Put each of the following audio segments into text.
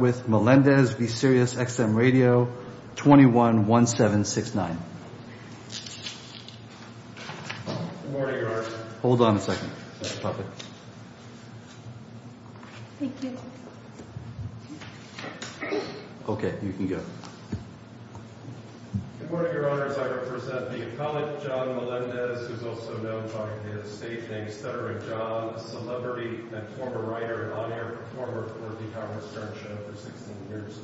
with Melendez v. Sirius XM Radio 21-1769. Good morning, Your Honor. Hold on a second. That's perfect. Thank you. OK. You can go. Good morning, Your Honors. I represent the economic John Melendez, who's also known by his stage name, Cedric John, a celebrity and former writer and audio performer for The Howard Stern Show for 16 years.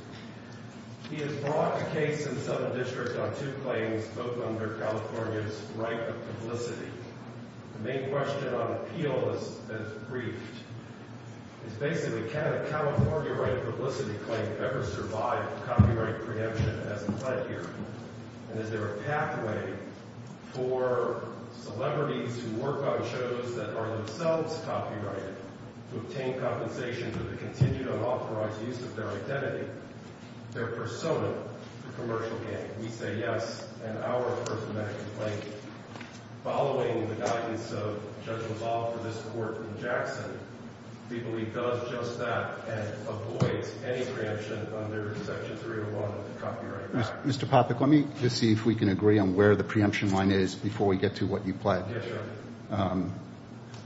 He has brought a case in the Southern District on two claims, both under California's right of publicity. The main question on appeal that's briefed is basically, can a California right of publicity claim ever survive copyright preemption as it's led here? And is there a pathway for celebrities who work on shows that are themselves copyrighted to obtain compensation for the continued unauthorized use of their identity, their persona, for commercial gain? We say yes. And our personal complaint, following the guidance of Judge LaValle for this court in Jackson, we believe does just that and avoids any preemption under Section 301 of the Copyright Act. Mr. Popik, let me just see if we can agree on where the preemption line is before we get to what you pledged.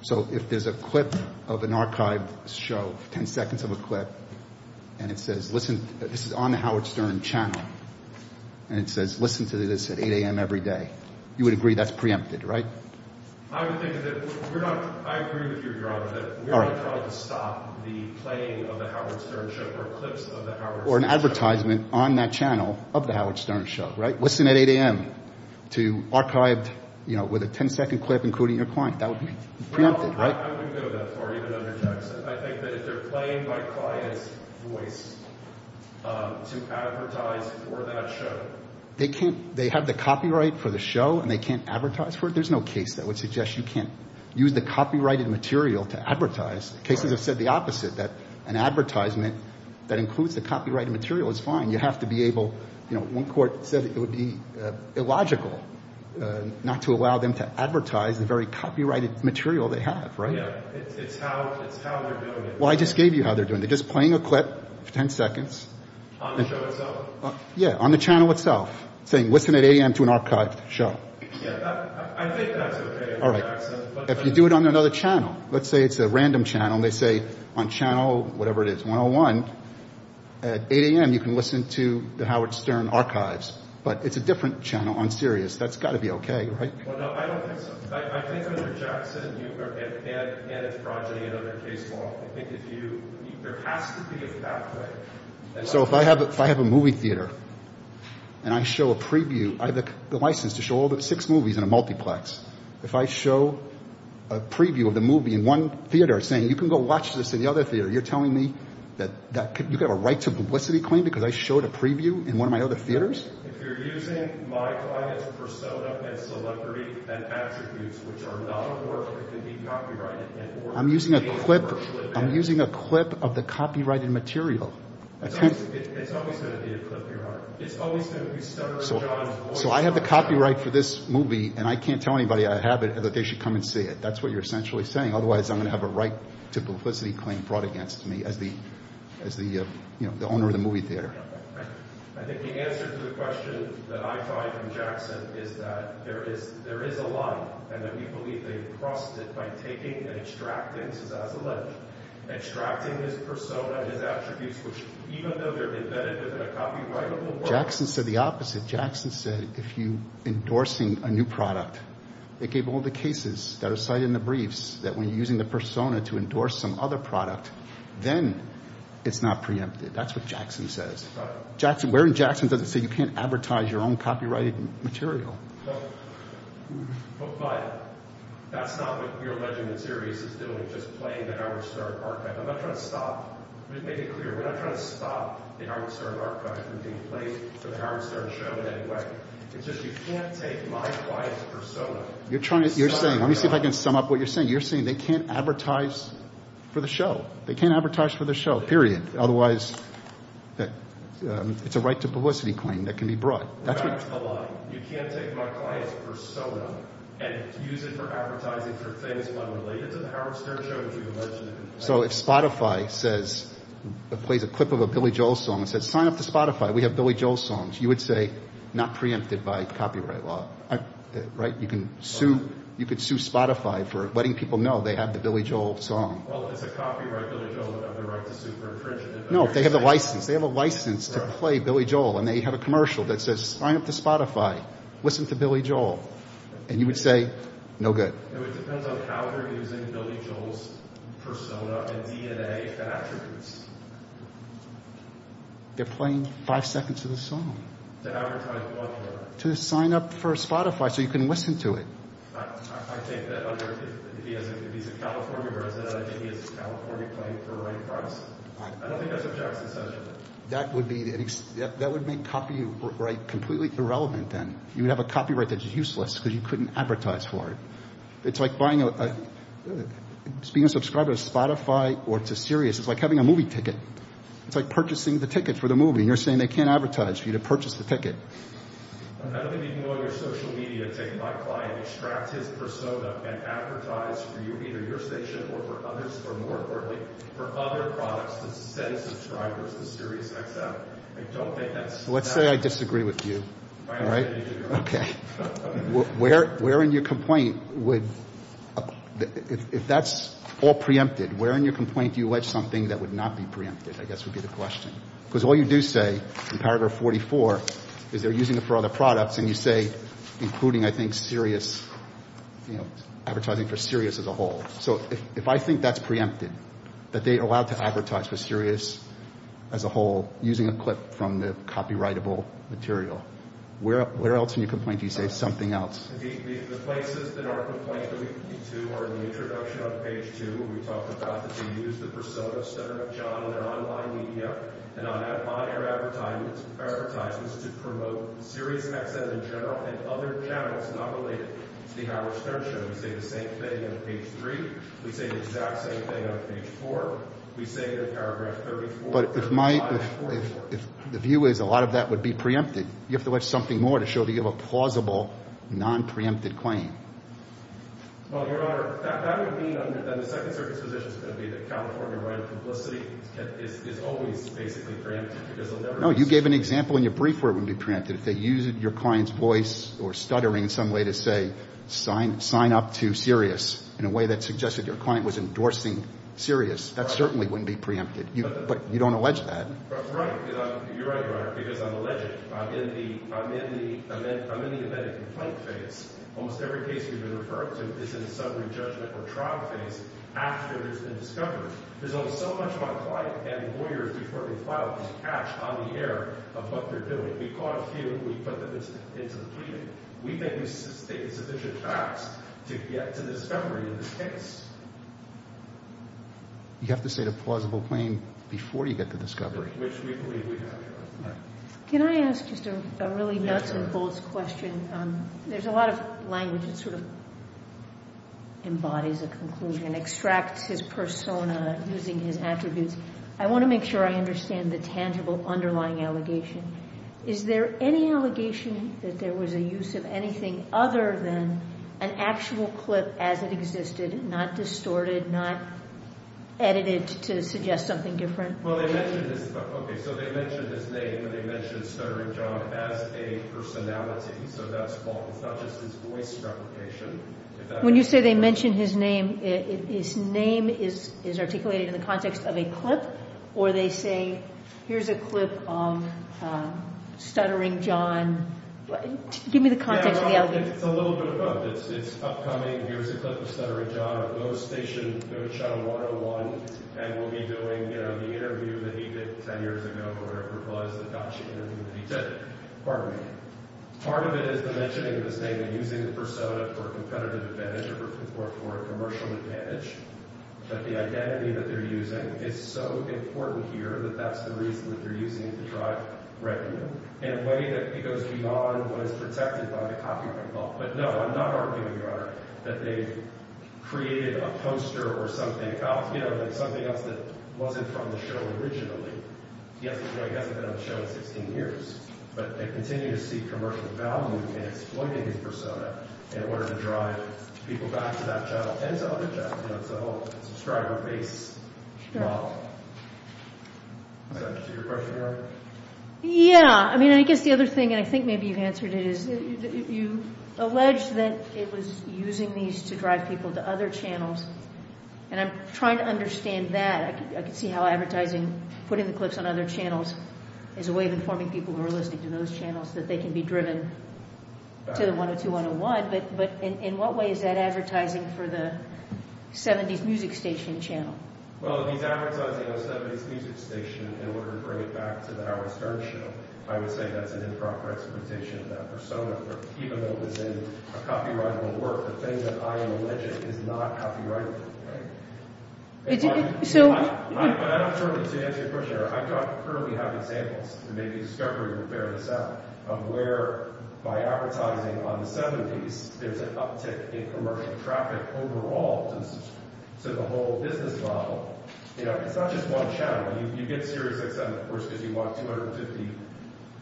So if there's a clip of an archived show, 10 seconds of a clip, and it says listen, this is on The Howard Stern Channel, and it says listen to this at 8 a.m. every day, you would agree that's preempted, right? I would think that we're not, I agree with you, Your Honor, that we're not trying to stop the playing of The Howard Stern Show or clips of The Howard Stern Show. Or an advertisement on that channel of The Howard Stern Show, right? Listen at 8 a.m. to archived, you know, with a 10-second clip including your client. That would be preempted, right? I wouldn't go that far, even under Jackson. I think that if they're playing my client's voice to advertise for that show. They can't, they have the copyright for the show and they can't advertise for it? There's no case that would suggest you can't use the copyrighted material to advertise. Cases have said the opposite, that an advertisement that includes the copyrighted material is fine. You have to be able, you know, one court said it would be illogical not to allow them to advertise the very copyrighted material they have, right? Yeah, it's how they're doing it. Well, I just gave you how they're doing it. They're just playing a clip for 10 seconds. On the show itself? Yeah, on the channel itself. Saying listen at 8 a.m. to an archived show. Yeah, I think that's okay. All right. If you do it on another channel, let's say it's a random channel and they say on channel, whatever it is, 101, at 8 a.m. you can listen to The Howard Stern Archives. But it's a different channel on Sirius. That's got to be okay, right? Well, no, I don't think so. I think Mr. Jackson, you, and his project and other case law, I think if you, there has to be a pathway. So if I have a movie theater and I show a preview, I have the license to show all six movies in a multiplex. If I show a preview of the movie in one theater saying you can go watch this in the other theater, you're telling me that you have a right to publicity claim because I showed a preview in one of my other theaters? I'm using a clip of the copyrighted material. So I have the copyright for this movie and I can't tell anybody I have it that they should come and see it. That's what you're essentially saying. Otherwise, I'm going to have a right to publicity claim brought against me as the owner of the movie theater. Jackson said the opposite. Jackson said if you're endorsing a new product, it gave all the cases that are cited in the briefs that when you're using the persona to endorse some other product, then it's not preempted. That's what Jackson says. Where Jackson doesn't say you can't advertise your own copyrighted material. You're saying, let me see if I can sum up what you're saying. You're saying they can't advertise for the show. They can't advertise for the show, period. Otherwise, it's a right to publicity claim that can be brought. So if Spotify plays a clip of a Billy Joel song and says sign up to Spotify, we have Billy Joel songs, you would say not preempted by copyright law. Right? You can sue Spotify for letting people know they have the Billy Joel song. No, they have a license. They have a license to play Billy Joel and they have a commercial that says sign up to Spotify. Listen to Billy Joel. And you would say, no good. They're playing five seconds of the song. To advertise what for? To sign up for Spotify so you can listen to it. That would make copyright completely irrelevant then. You would have a copyright that's useless because you couldn't advertise for it. It's like being a subscriber to Spotify or to Sirius. It's like having a movie ticket. It's like purchasing the ticket for the movie. You're saying they can't advertise for you to purchase the ticket. Let's say I disagree with you. Where in your complaint would, if that's all preempted, where in your complaint do you wedge something that would not be preempted? I guess would be the question. Because all you do say in paragraph 44 is they're using it for other products and you say including I think Sirius, advertising for Sirius as a whole. So if I think that's preempted, that they're allowed to advertise for Sirius as a whole using a clip from the copyrightable material, where else in your complaint do you say something else? The places that our complaint would lead to are in the introduction on page two where we talk about that they use the persona of Senator John on their online media and on their advertisements to promote SiriusXM in general and other channels not related to the Howard Stern Show. We say the same thing on page three. We say the exact same thing on page four. We say in paragraph 34. But if my, if the view is a lot of that would be preempted, you have to wedge something more to show that you have a plausible non-preempted claim. Well, Your Honor, that would mean that the Second Circuit's position is going to be that California right of publicity is always basically preempted. No, you gave an example in your brief where it wouldn't be preempted. If they used your client's voice or stuttering in some way to say sign up to Sirius in a way that suggested your client was endorsing Sirius, that certainly wouldn't be preempted. But you don't allege that. Right. You're right, Your Honor. Because I'm alleged. I'm in the embedded complaint phase. Almost every case we've been referred to is in a sudden re-judgment or trial phase after there's been a discovery. There's almost so much my client and lawyers before they file a case catch on the air of what they're doing. We caught a few. We put them into the pleading. We think we've stated sufficient facts to get to the discovery of this case. You have to state a plausible claim before you get to discovery. Which we believe we have, Your Honor. Can I ask just a really nuts and bolts question? There's a lot of language that sort of extracts his persona using his attributes. I want to make sure I understand the tangible underlying allegation. Is there any allegation that there was a use of anything other than an actual clip as it existed, not distorted, not edited to suggest something different? Well, they mentioned his... Okay, so they mentioned his name, but they mentioned Stuttering John as a personality. So that's false. It's not just his voice replication. When you say they mentioned his name, his name is articulated in the context of a clip. Or they say, here's a clip of Stuttering John. Give me the context of the allegation. It's a little bit of both. It's upcoming. Here's a clip of Stuttering John at Moe Station, Moe Channel 101. And we'll be doing, you know, the interview that he did 10 years ago where it was a Dutch interview that he did. Pardon me. Part of it is the mentioning of his name and using the persona for a competitive advantage or for a commercial advantage. But the identity that they're using is so important here that that's the reason that they're using it to drive revenue in a way that it goes beyond what is protected by the copyright law. But no, I'm not arguing, Your Honor, that they created a poster or something else that wasn't from the show originally. He hasn't been on the show in 16 years. But they continue to seek commercial value in exploiting his persona in order to drive people back to that channel and to other channels. It's a whole subscriber-based model. Is that your question, Your Honor? Yeah. I mean, I guess the other thing and I think maybe you've answered it is that you allege that it was using these to drive people to other channels. And I'm trying to understand that. I can see how advertising, putting the clips on other channels is a way of informing people who are listening to those channels that they can be driven to the 102-101. But in what way is that advertising for the 70s music station channel? Well, if he's advertising a 70s music station in order to bring it back to the Howard Stern show, I would say that's an improper exploitation of that persona. Even though it was in a copyrightable work, the thing that I allege is not copyrighted. Right? So... But I don't currently answer your question, Your Honor. I don't currently have examples to make a discovery that would bear this out of where by advertising on the 70s, there's an uptick in commercial traffic overall. So the whole business model, you know, it's not just one channel. You get Sirius XM, of course, because you want 250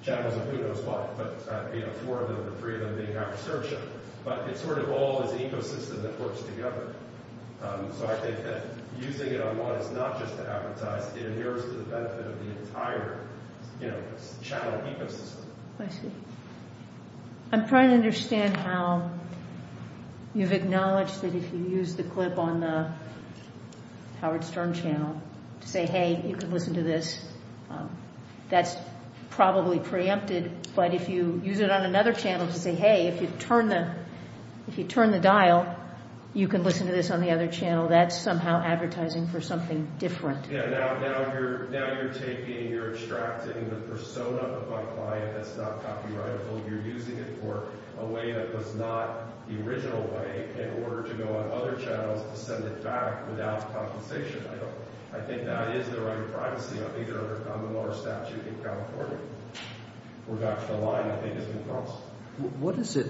channels of who knows what. But, you know, four of them or three of them being Howard Stern show. But it's sort of all this ecosystem that works together. So I think that using it online is not just to advertise. It adheres to the benefit of the entire, you know, channel ecosystem. My sweet. I'm trying to understand how you've acknowledged that if you use the clip on the Howard Stern channel to say, hey, you can listen to this. That's probably preempted. But if you use it on another channel to say, hey, if you turn the dial, you can listen to this on the other channel. That's somehow advertising for something different. Yeah, now you're taking, you're extracting the persona of my client that's not copyrighted. So you're using it for a way that was not the original way in order to go on other channels to send it back without compensation. I don't, I think that is the right privacy on either, on the more statute in California. We've got the line I think it's been crossed. What is it?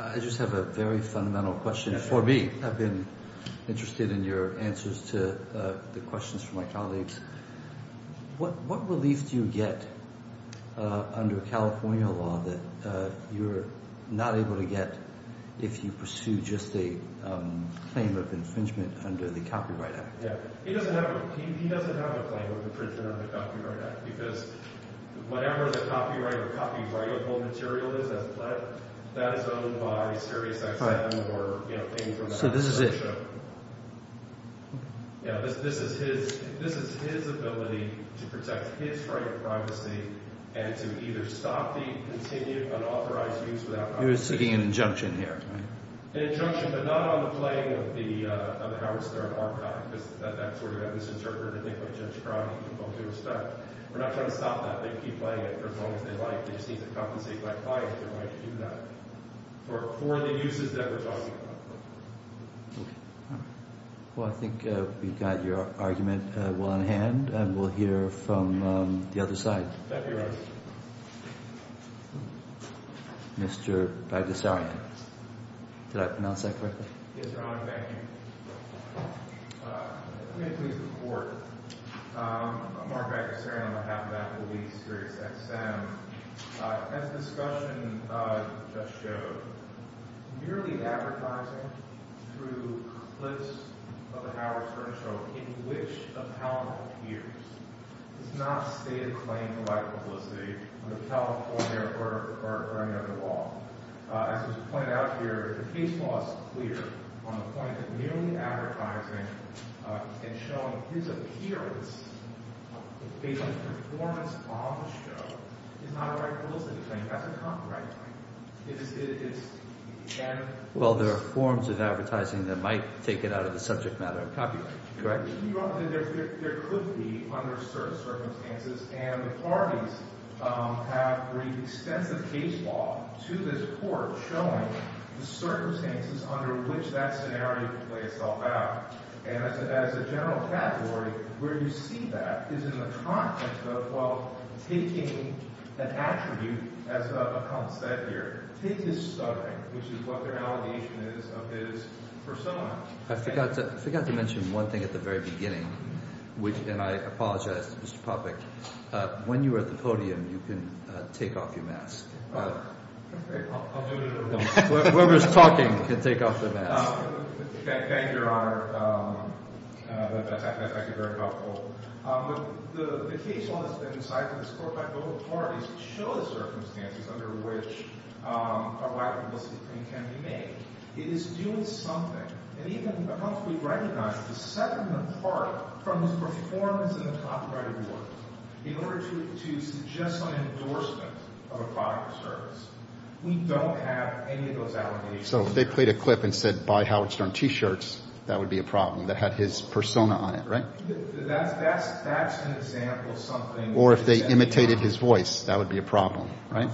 I just have a very fundamental question for me. I've been interested in your answers to the questions from my colleagues. What, what relief do you get under California law that you're not able to get if you pursue just a claim of infringement under the Copyright Act? Yeah. He doesn't have a, he doesn't have a claim of infringement under the Copyright Act because whatever the copyright or copyrightable material is that's pled, that is owned by SiriusXM or, you know, anything from that So this is it? Yeah, this, this is his, this is his ability to protect his right of privacy and to either stop the continued unauthorized use without You're seeking an injunction here, right? An injunction but not on the claim of the, of the Howard Stern Archive because that, that sort of misinterpreted thing by Judge Crown and people who were stuck. We're not trying to stop that. They can keep playing it for as long as they like. They just need to compensate by filing their right to do that for, for the uses that we're talking about. Okay. Well, I think we've got your argument well on hand and we'll hear from the other side. Thank you, Your Honor. Mr. Bagdasarian. Did I pronounce that correctly? Yes, Your Honor. Thank you. Let me please report. I'm Mark Bagdasarian on behalf of Applebee's SiriusXM. As the discussion just showed, merely advertising through clips of a Howard Stern show in which a panel appears is not a stated claim of right to publicity under California or, or, or any other law. As was pointed out here, the case law is clear on the point that merely advertising and showing his appearance based on performance on the show is not a right to publicity claim. That's a copyright claim. It is, it is, and Well, there are forms of advertising that might take it out of the subject matter of copyright. Correct? Your Honor, there, there, there could be under certain circumstances and the parties have extensive case law to this court showing the circumstances under which that scenario could play itself out. And as a, as a general category where you see that is in the context of, well, taking an attribute as a, a concept here is stuttering, which is what their allegation is of his persona. I forgot to, I forgot to mention one thing at the very beginning which, and I apologize Mr. Poppeck, when you were at the podium you can take off your mask. Okay, I'll do it at a room. Whoever's talking can take off their mask. Thank you, thank you, Your Honor. That's actually very helpful. The, the case law has been decided in this court by both parties to show the circumstances under which a white publicity claim can be made. It is doing something and even we recognize to set them apart from the performance of the copyrighted work in order to, to suggest an endorsement of a product or service. We don't have any of those allegations. So if they played a clip and said buy Howard Stern t-shirts that would be a problem that had his persona on it, right? That's, that's, that's an example of something or if they imitated his voice that would be a problem, right?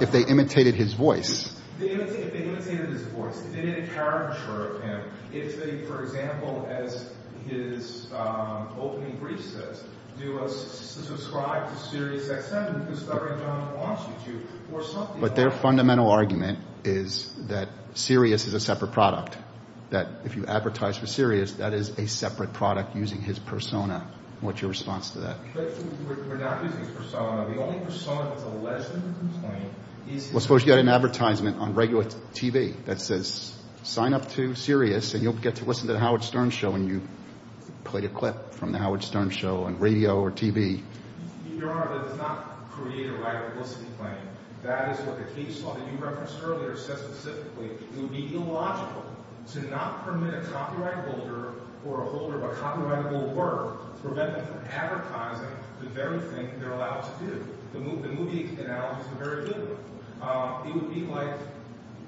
If they imitated his voice. If they imitated his voice, if they did a caricature of him, if they, for example, as his opening brief says, do a subscribe to Sirius XM discovering John Washington or something like that. But their fundamental argument is that Sirius is a separate product. That if you advertise for Sirius that is a separate product using his persona. What's your response to that? We're not using his persona. The only persona that's alleged in this complaint is his... Well, suppose you had an advertisement on regular TV that says sign up to Sirius and you'll get to listen to the Howard Stern show and you played a clip from the Howard Stern show on radio or TV. Your Honor, that does not create a right publicity claim. That is what the case law that you referenced earlier says specifically. It would be illogical to not permit a copyright holder or a holder of a copyrightable work to prevent them from advertising the very thing they're allowed to do. The movie analogies are very good. It would be like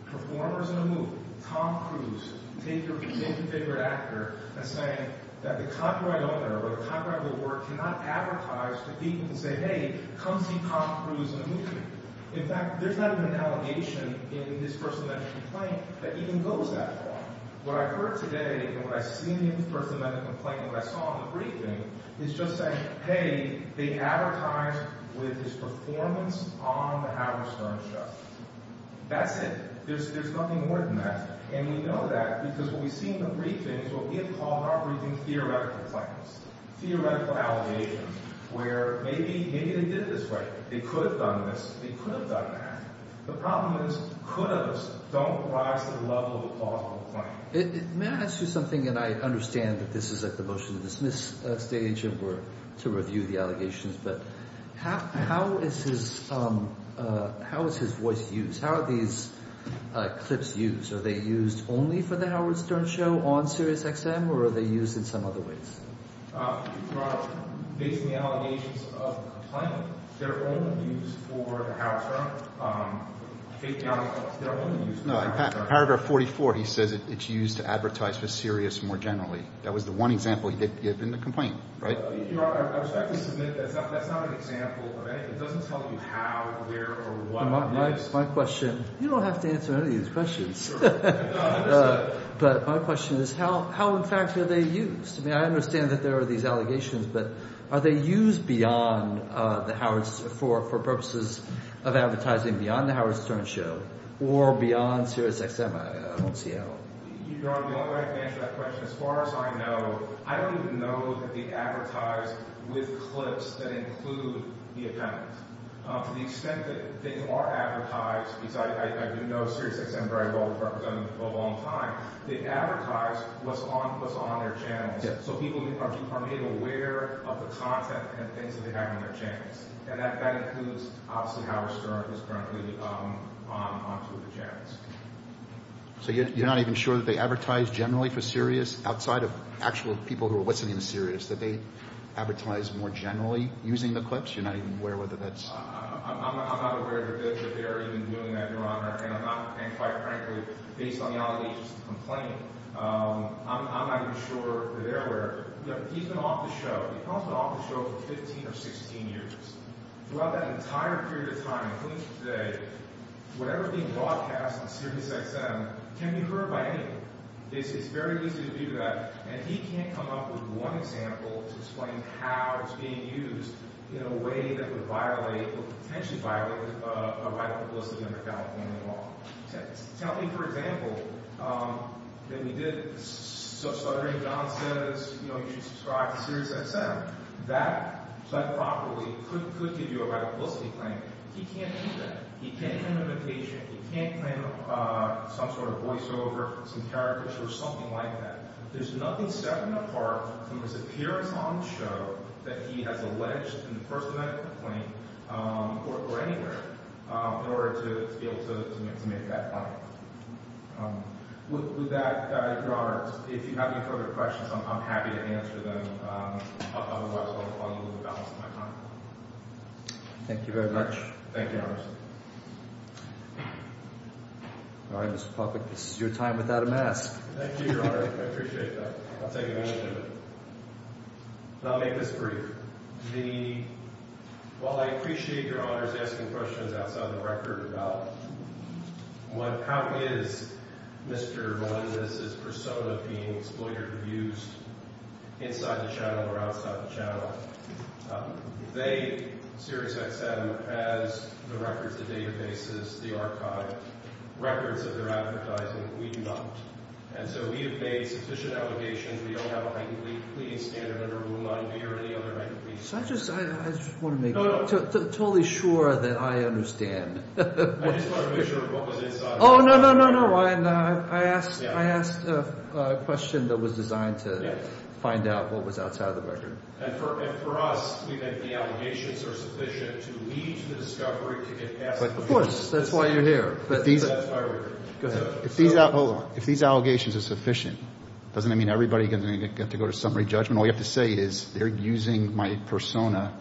performers in a movie. Tom Cruise taking his favorite actor and saying that the copyright owner or the copyrightable work cannot advertise to people and say, hey, come see Tom Cruise in a movie. In fact, there's not even an allegation in this personal medical complaint that even goes that far. What I've heard today and what I've seen in this personal medical complaint and what I saw in the briefing is just saying, hey, they advertised with this performance on the Howard Stern show. That's it. There's nothing more than that. And we know that because what we see in the briefing is what we have called in our briefing theoretical claims. Theoretical allegations where maybe they did it this way. They could have done this. They could have done that. The problem is could haves don't rise to the level of a plausible claim. May I ask you something and I understand that this is at the motion to dismiss stage and we're to review the allegations but how is his how is his voice used? How are these clips used? Are they used only for the Howard Stern show on Sirius XM or are they used in some other ways? Based on the allegations of the complaint, they're only used for the Howard Stern. They're only used for the Howard Stern. In paragraph 44 he says it's used to advertise for Sirius XM more generally. That was the one example he did in the complaint. Right? Your Honor, I respectfully submit that's not an example of anything. It doesn't tell you how, where or what it is. My question you don't have to answer any of these questions. No, I understand. But my question is how in fact are they used? I mean I understand but are they used beyond the Howard's for purposes of advertising beyond the Howard Stern show or beyond Sirius XM? I don't see how. Your Honor, the only way I can answer that question as far as I know I don't even know that they advertise with clips that include the appendix. To the extent that they are advertised because I do know Sirius XM where I've represented them for a long time they advertise what's on their channels so people are made aware of the content and things that they have on their channels. And that includes obviously Howard Stern who's currently on two of the channels. So you're not even sure that they advertise generally for Sirius outside of actual people who are listening to Sirius? That they advertise more generally using the clips? You're not even aware whether that's... I'm not aware that they're even doing that Your Honor and I'm not and quite frankly based on the allegations to complain I'm not even sure that they're aware. He's been off the show he's probably been off the show for 15 or 16 years. Throughout that entire period of time including today whatever's being broadcast on Sirius XM can be heard by anyone. It's very easy to do that and he can't come up with one example to explain how it's being used in a way that would violate or potentially violate a right of publicity under California law. Tell me for example that we did such stuttering John says you know you should subscribe to Sirius XM that said properly could give you a right of publicity claim. He can't do that? He can't do an imitation he can't claim some sort of voiceover some characters or something like that. There's nothing setting him apart from his appearance on the show that he has alleged in the first night of the claim or anywhere in order to be able to make that point. With that Your Honor if you have any further questions I'm happy to answer them otherwise I'll give you the balance of my time. Thank you very much. Thank you Anderson. Alright Mr. Popek this is your time without a mask. Thank you Your Honor I appreciate that. I'll take advantage of it. I'll make this brief. While I appreciate Your Honor's asking questions outside the record about how is Mr. Melendez's persona being exploited or used inside the channel or outside the channel they Sirius XM has the records the databases the archive records that they're advertising we do not. And so we have made sufficient allegations we don't have a heightened plea standard under rule 9B or any other heightened plea standard. I just I just want to make totally sure that I understand I just want to make sure what was inside Oh no no no no I asked I asked a question that was designed to find out what was outside of the record. And for us we think the allegations are sufficient to lead to the discovery to get past the Of course Of course That's why you're here. But these If these Hold on If these allegations are sufficient doesn't that mean everybody is going to have to go to summary judgment all you have to say is they're using my persona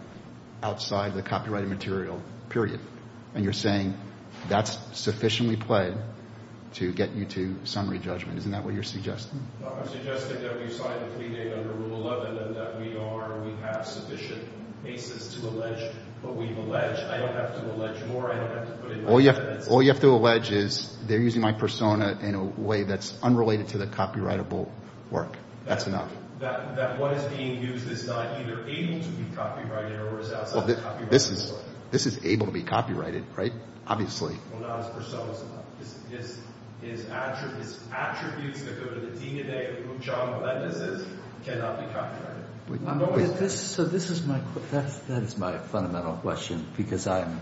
outside the copyrighted material period. And you're saying that's sufficiently played to get you to summary judgment isn't that what you're suggesting? No I'm suggesting that we signed a plea date under rule 11 and that we are we have sufficient basis to allege what we've alleged I don't have to allege more I don't have to put in more evidence All you have to allege is they're using my persona in a way that's unrelated to the copyrightable work. That's enough. That what is being used is not either able to be copyrighted or is outside the copyrighted story. This is able to be copyrighted right? Obviously Well not his So this is my that is my fundamental question because I'm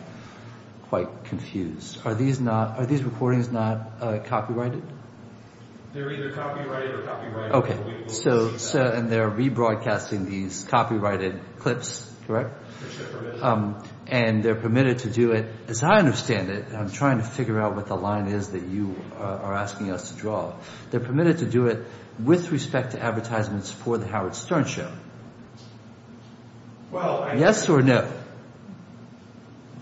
quite confused. Are these not are these recordings not copyrighted? They're either copyrighted or copyrighted. So and they're rebroadcasting these copyrighted clips correct? And they're permitted to do it as I understand it I'm trying to figure out what the line is that you are asking us to draw they're permitted to do it with respect to advertisements for the Howard Stern show. Yes or no?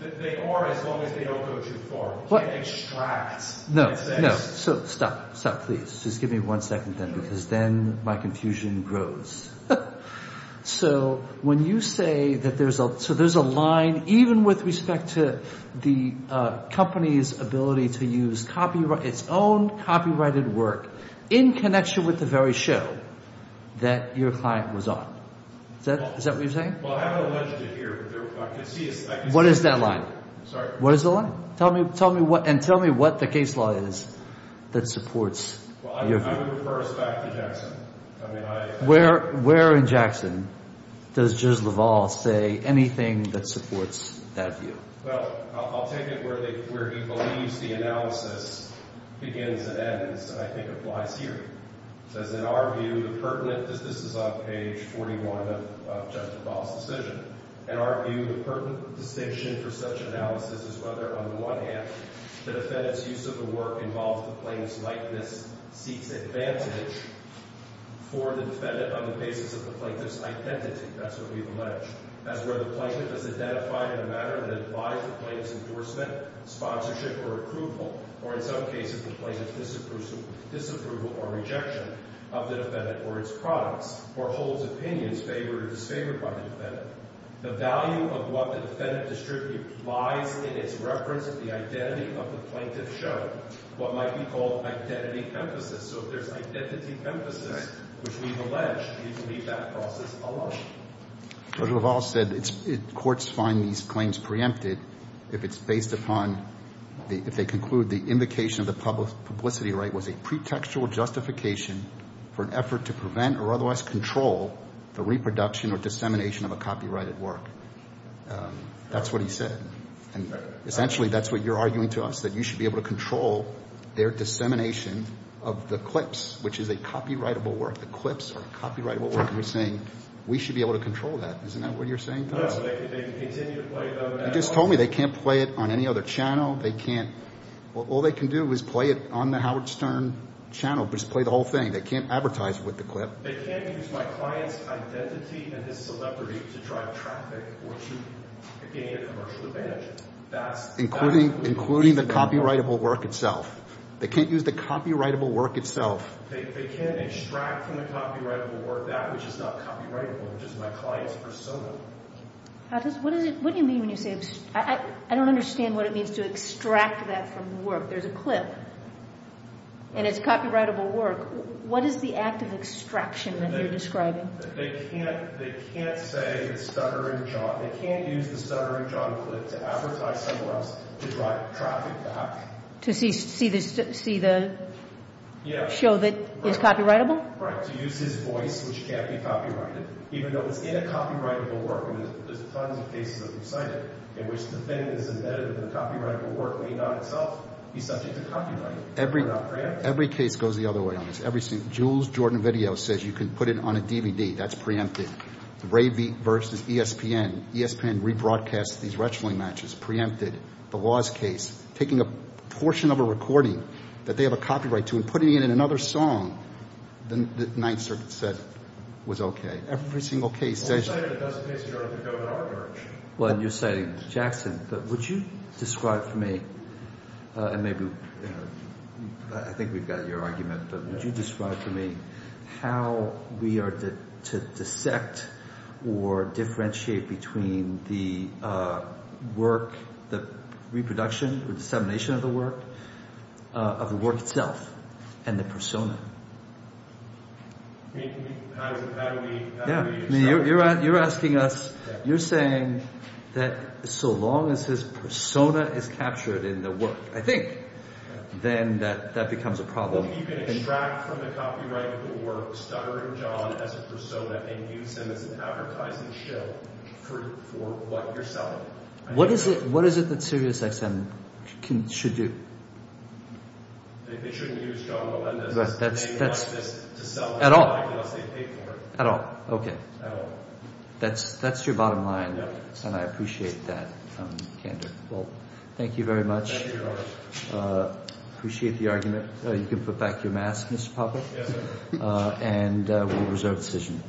They are as long as they don't go too far. You can't extract. No. No. So stop. Stop please. Just give me one second then because then my confusion grows. So when you say that there's a so there's a line even with respect to the company's ability to use copyright its own copyrighted work in connection with the very show that your client was on. Is that what you're saying? Well I haven't alleged it here but I can see What is that line? Sorry? What is the line? Tell me and tell me what the case law is that supports your view. I would refer us back to Jackson. Where in Jackson does Judge Leval say anything that supports that view? Well I'll take it where he believes the analysis begins and ends and I think applies here. It says in our view the pertinent this is on page 41 of Judge Leval's decision in our view the pertinent distinction for such analysis is whether on the one hand the defendant's use of the work involves the plaintiff's likeness seeks advantage for the defendant on the basis of the plaintiff's identity. That's what we've alleged. That's where the plaintiff is identified in a manner that applies to the plaintiff's endorsement sponsorship or approval or in some cases the plaintiff's disapproval or rejection of the defendant or its products or holds opinions favored or disfavored by the defendant. The value of what the defendant distributes lies in its reference to the identity of the plaintiff shown. What might be called identity emphasis. So if there's identity emphasis which we've alleged we can leave that process alone. Judge Leval said courts find these claims preempted if it's based upon if they conclude the invocation of the publicity right was a pretextual justification for an effort to prevent or otherwise control the reproduction or dissemination of a copyrighted work. That's what he said. Essentially that's what you're arguing to us that you should be able to control their dissemination of the clips which is a copyrightable work. The clips are a copyrightable work and we're saying we should be able to control that. Isn't that what you're saying to us? No. They can continue to play them. You just told me they can't play it on any other channel. They can't. All they can do is play it on the Howard Stern channel. Just play the whole thing. They can't advertise with the clip. They can't use my client's identity and his celebrity to drive traffic or to gain a commercial advantage. That's including the copyrightable work itself. They can't use the copyrightable work itself. They can't extract from the copyrightable work that which is not copyrightable which is my client's persona. What do you mean when you say I don't understand what it means to extract that from the work. There's a clip and it's copyrightable work. What is the act of extraction that you're describing? They can't say the Stutterer and John clip. They can't use the Stutterer and John clip to advertise somewhere else to drive traffic back. To see the show that is copyrightable? Right. To use his voice which can't be copyrighted even though it's in a copyrightable work. There's tons of cases that have been cited in which the thing that is embedded in the copyrightable work may not itself be subject to copyright. Every case goes the other way on this. Jules Jordan Video says you can put it on a DVD. That's preempted. Ravy versus ESPN. ESPN rebroadcasts these wrestling matches. Preempted. If they're taking a portion of a recording that they have a copyright to and putting it in another song then the Ninth Circuit said it was okay. Every single case. You're citing Jackson. Would you describe for me and maybe I think we've got your argument but would you describe for me how we are to dissect or differentiate between the work the reproduction or dissemination of the work of the work itself and the persona. How do we How do we Yeah. You're asking us you're saying that so long as his persona is captured in the work I think then that that becomes a problem. You can extract from the copyrightable work Stutterer and John as a persona and use them as an advertising show for what you're selling. What is it what is it that Sirius XM should do? They shouldn't use John Melendez unless they pay for it. At all? Unless they pay for it. At all? Okay. That's that's your bottom line and I appreciate that candor. Well thank you very much. Thank you very much. Appreciate the argument. You can put back your mask Mr. Popper. Yes sir. And we'll reserve decision.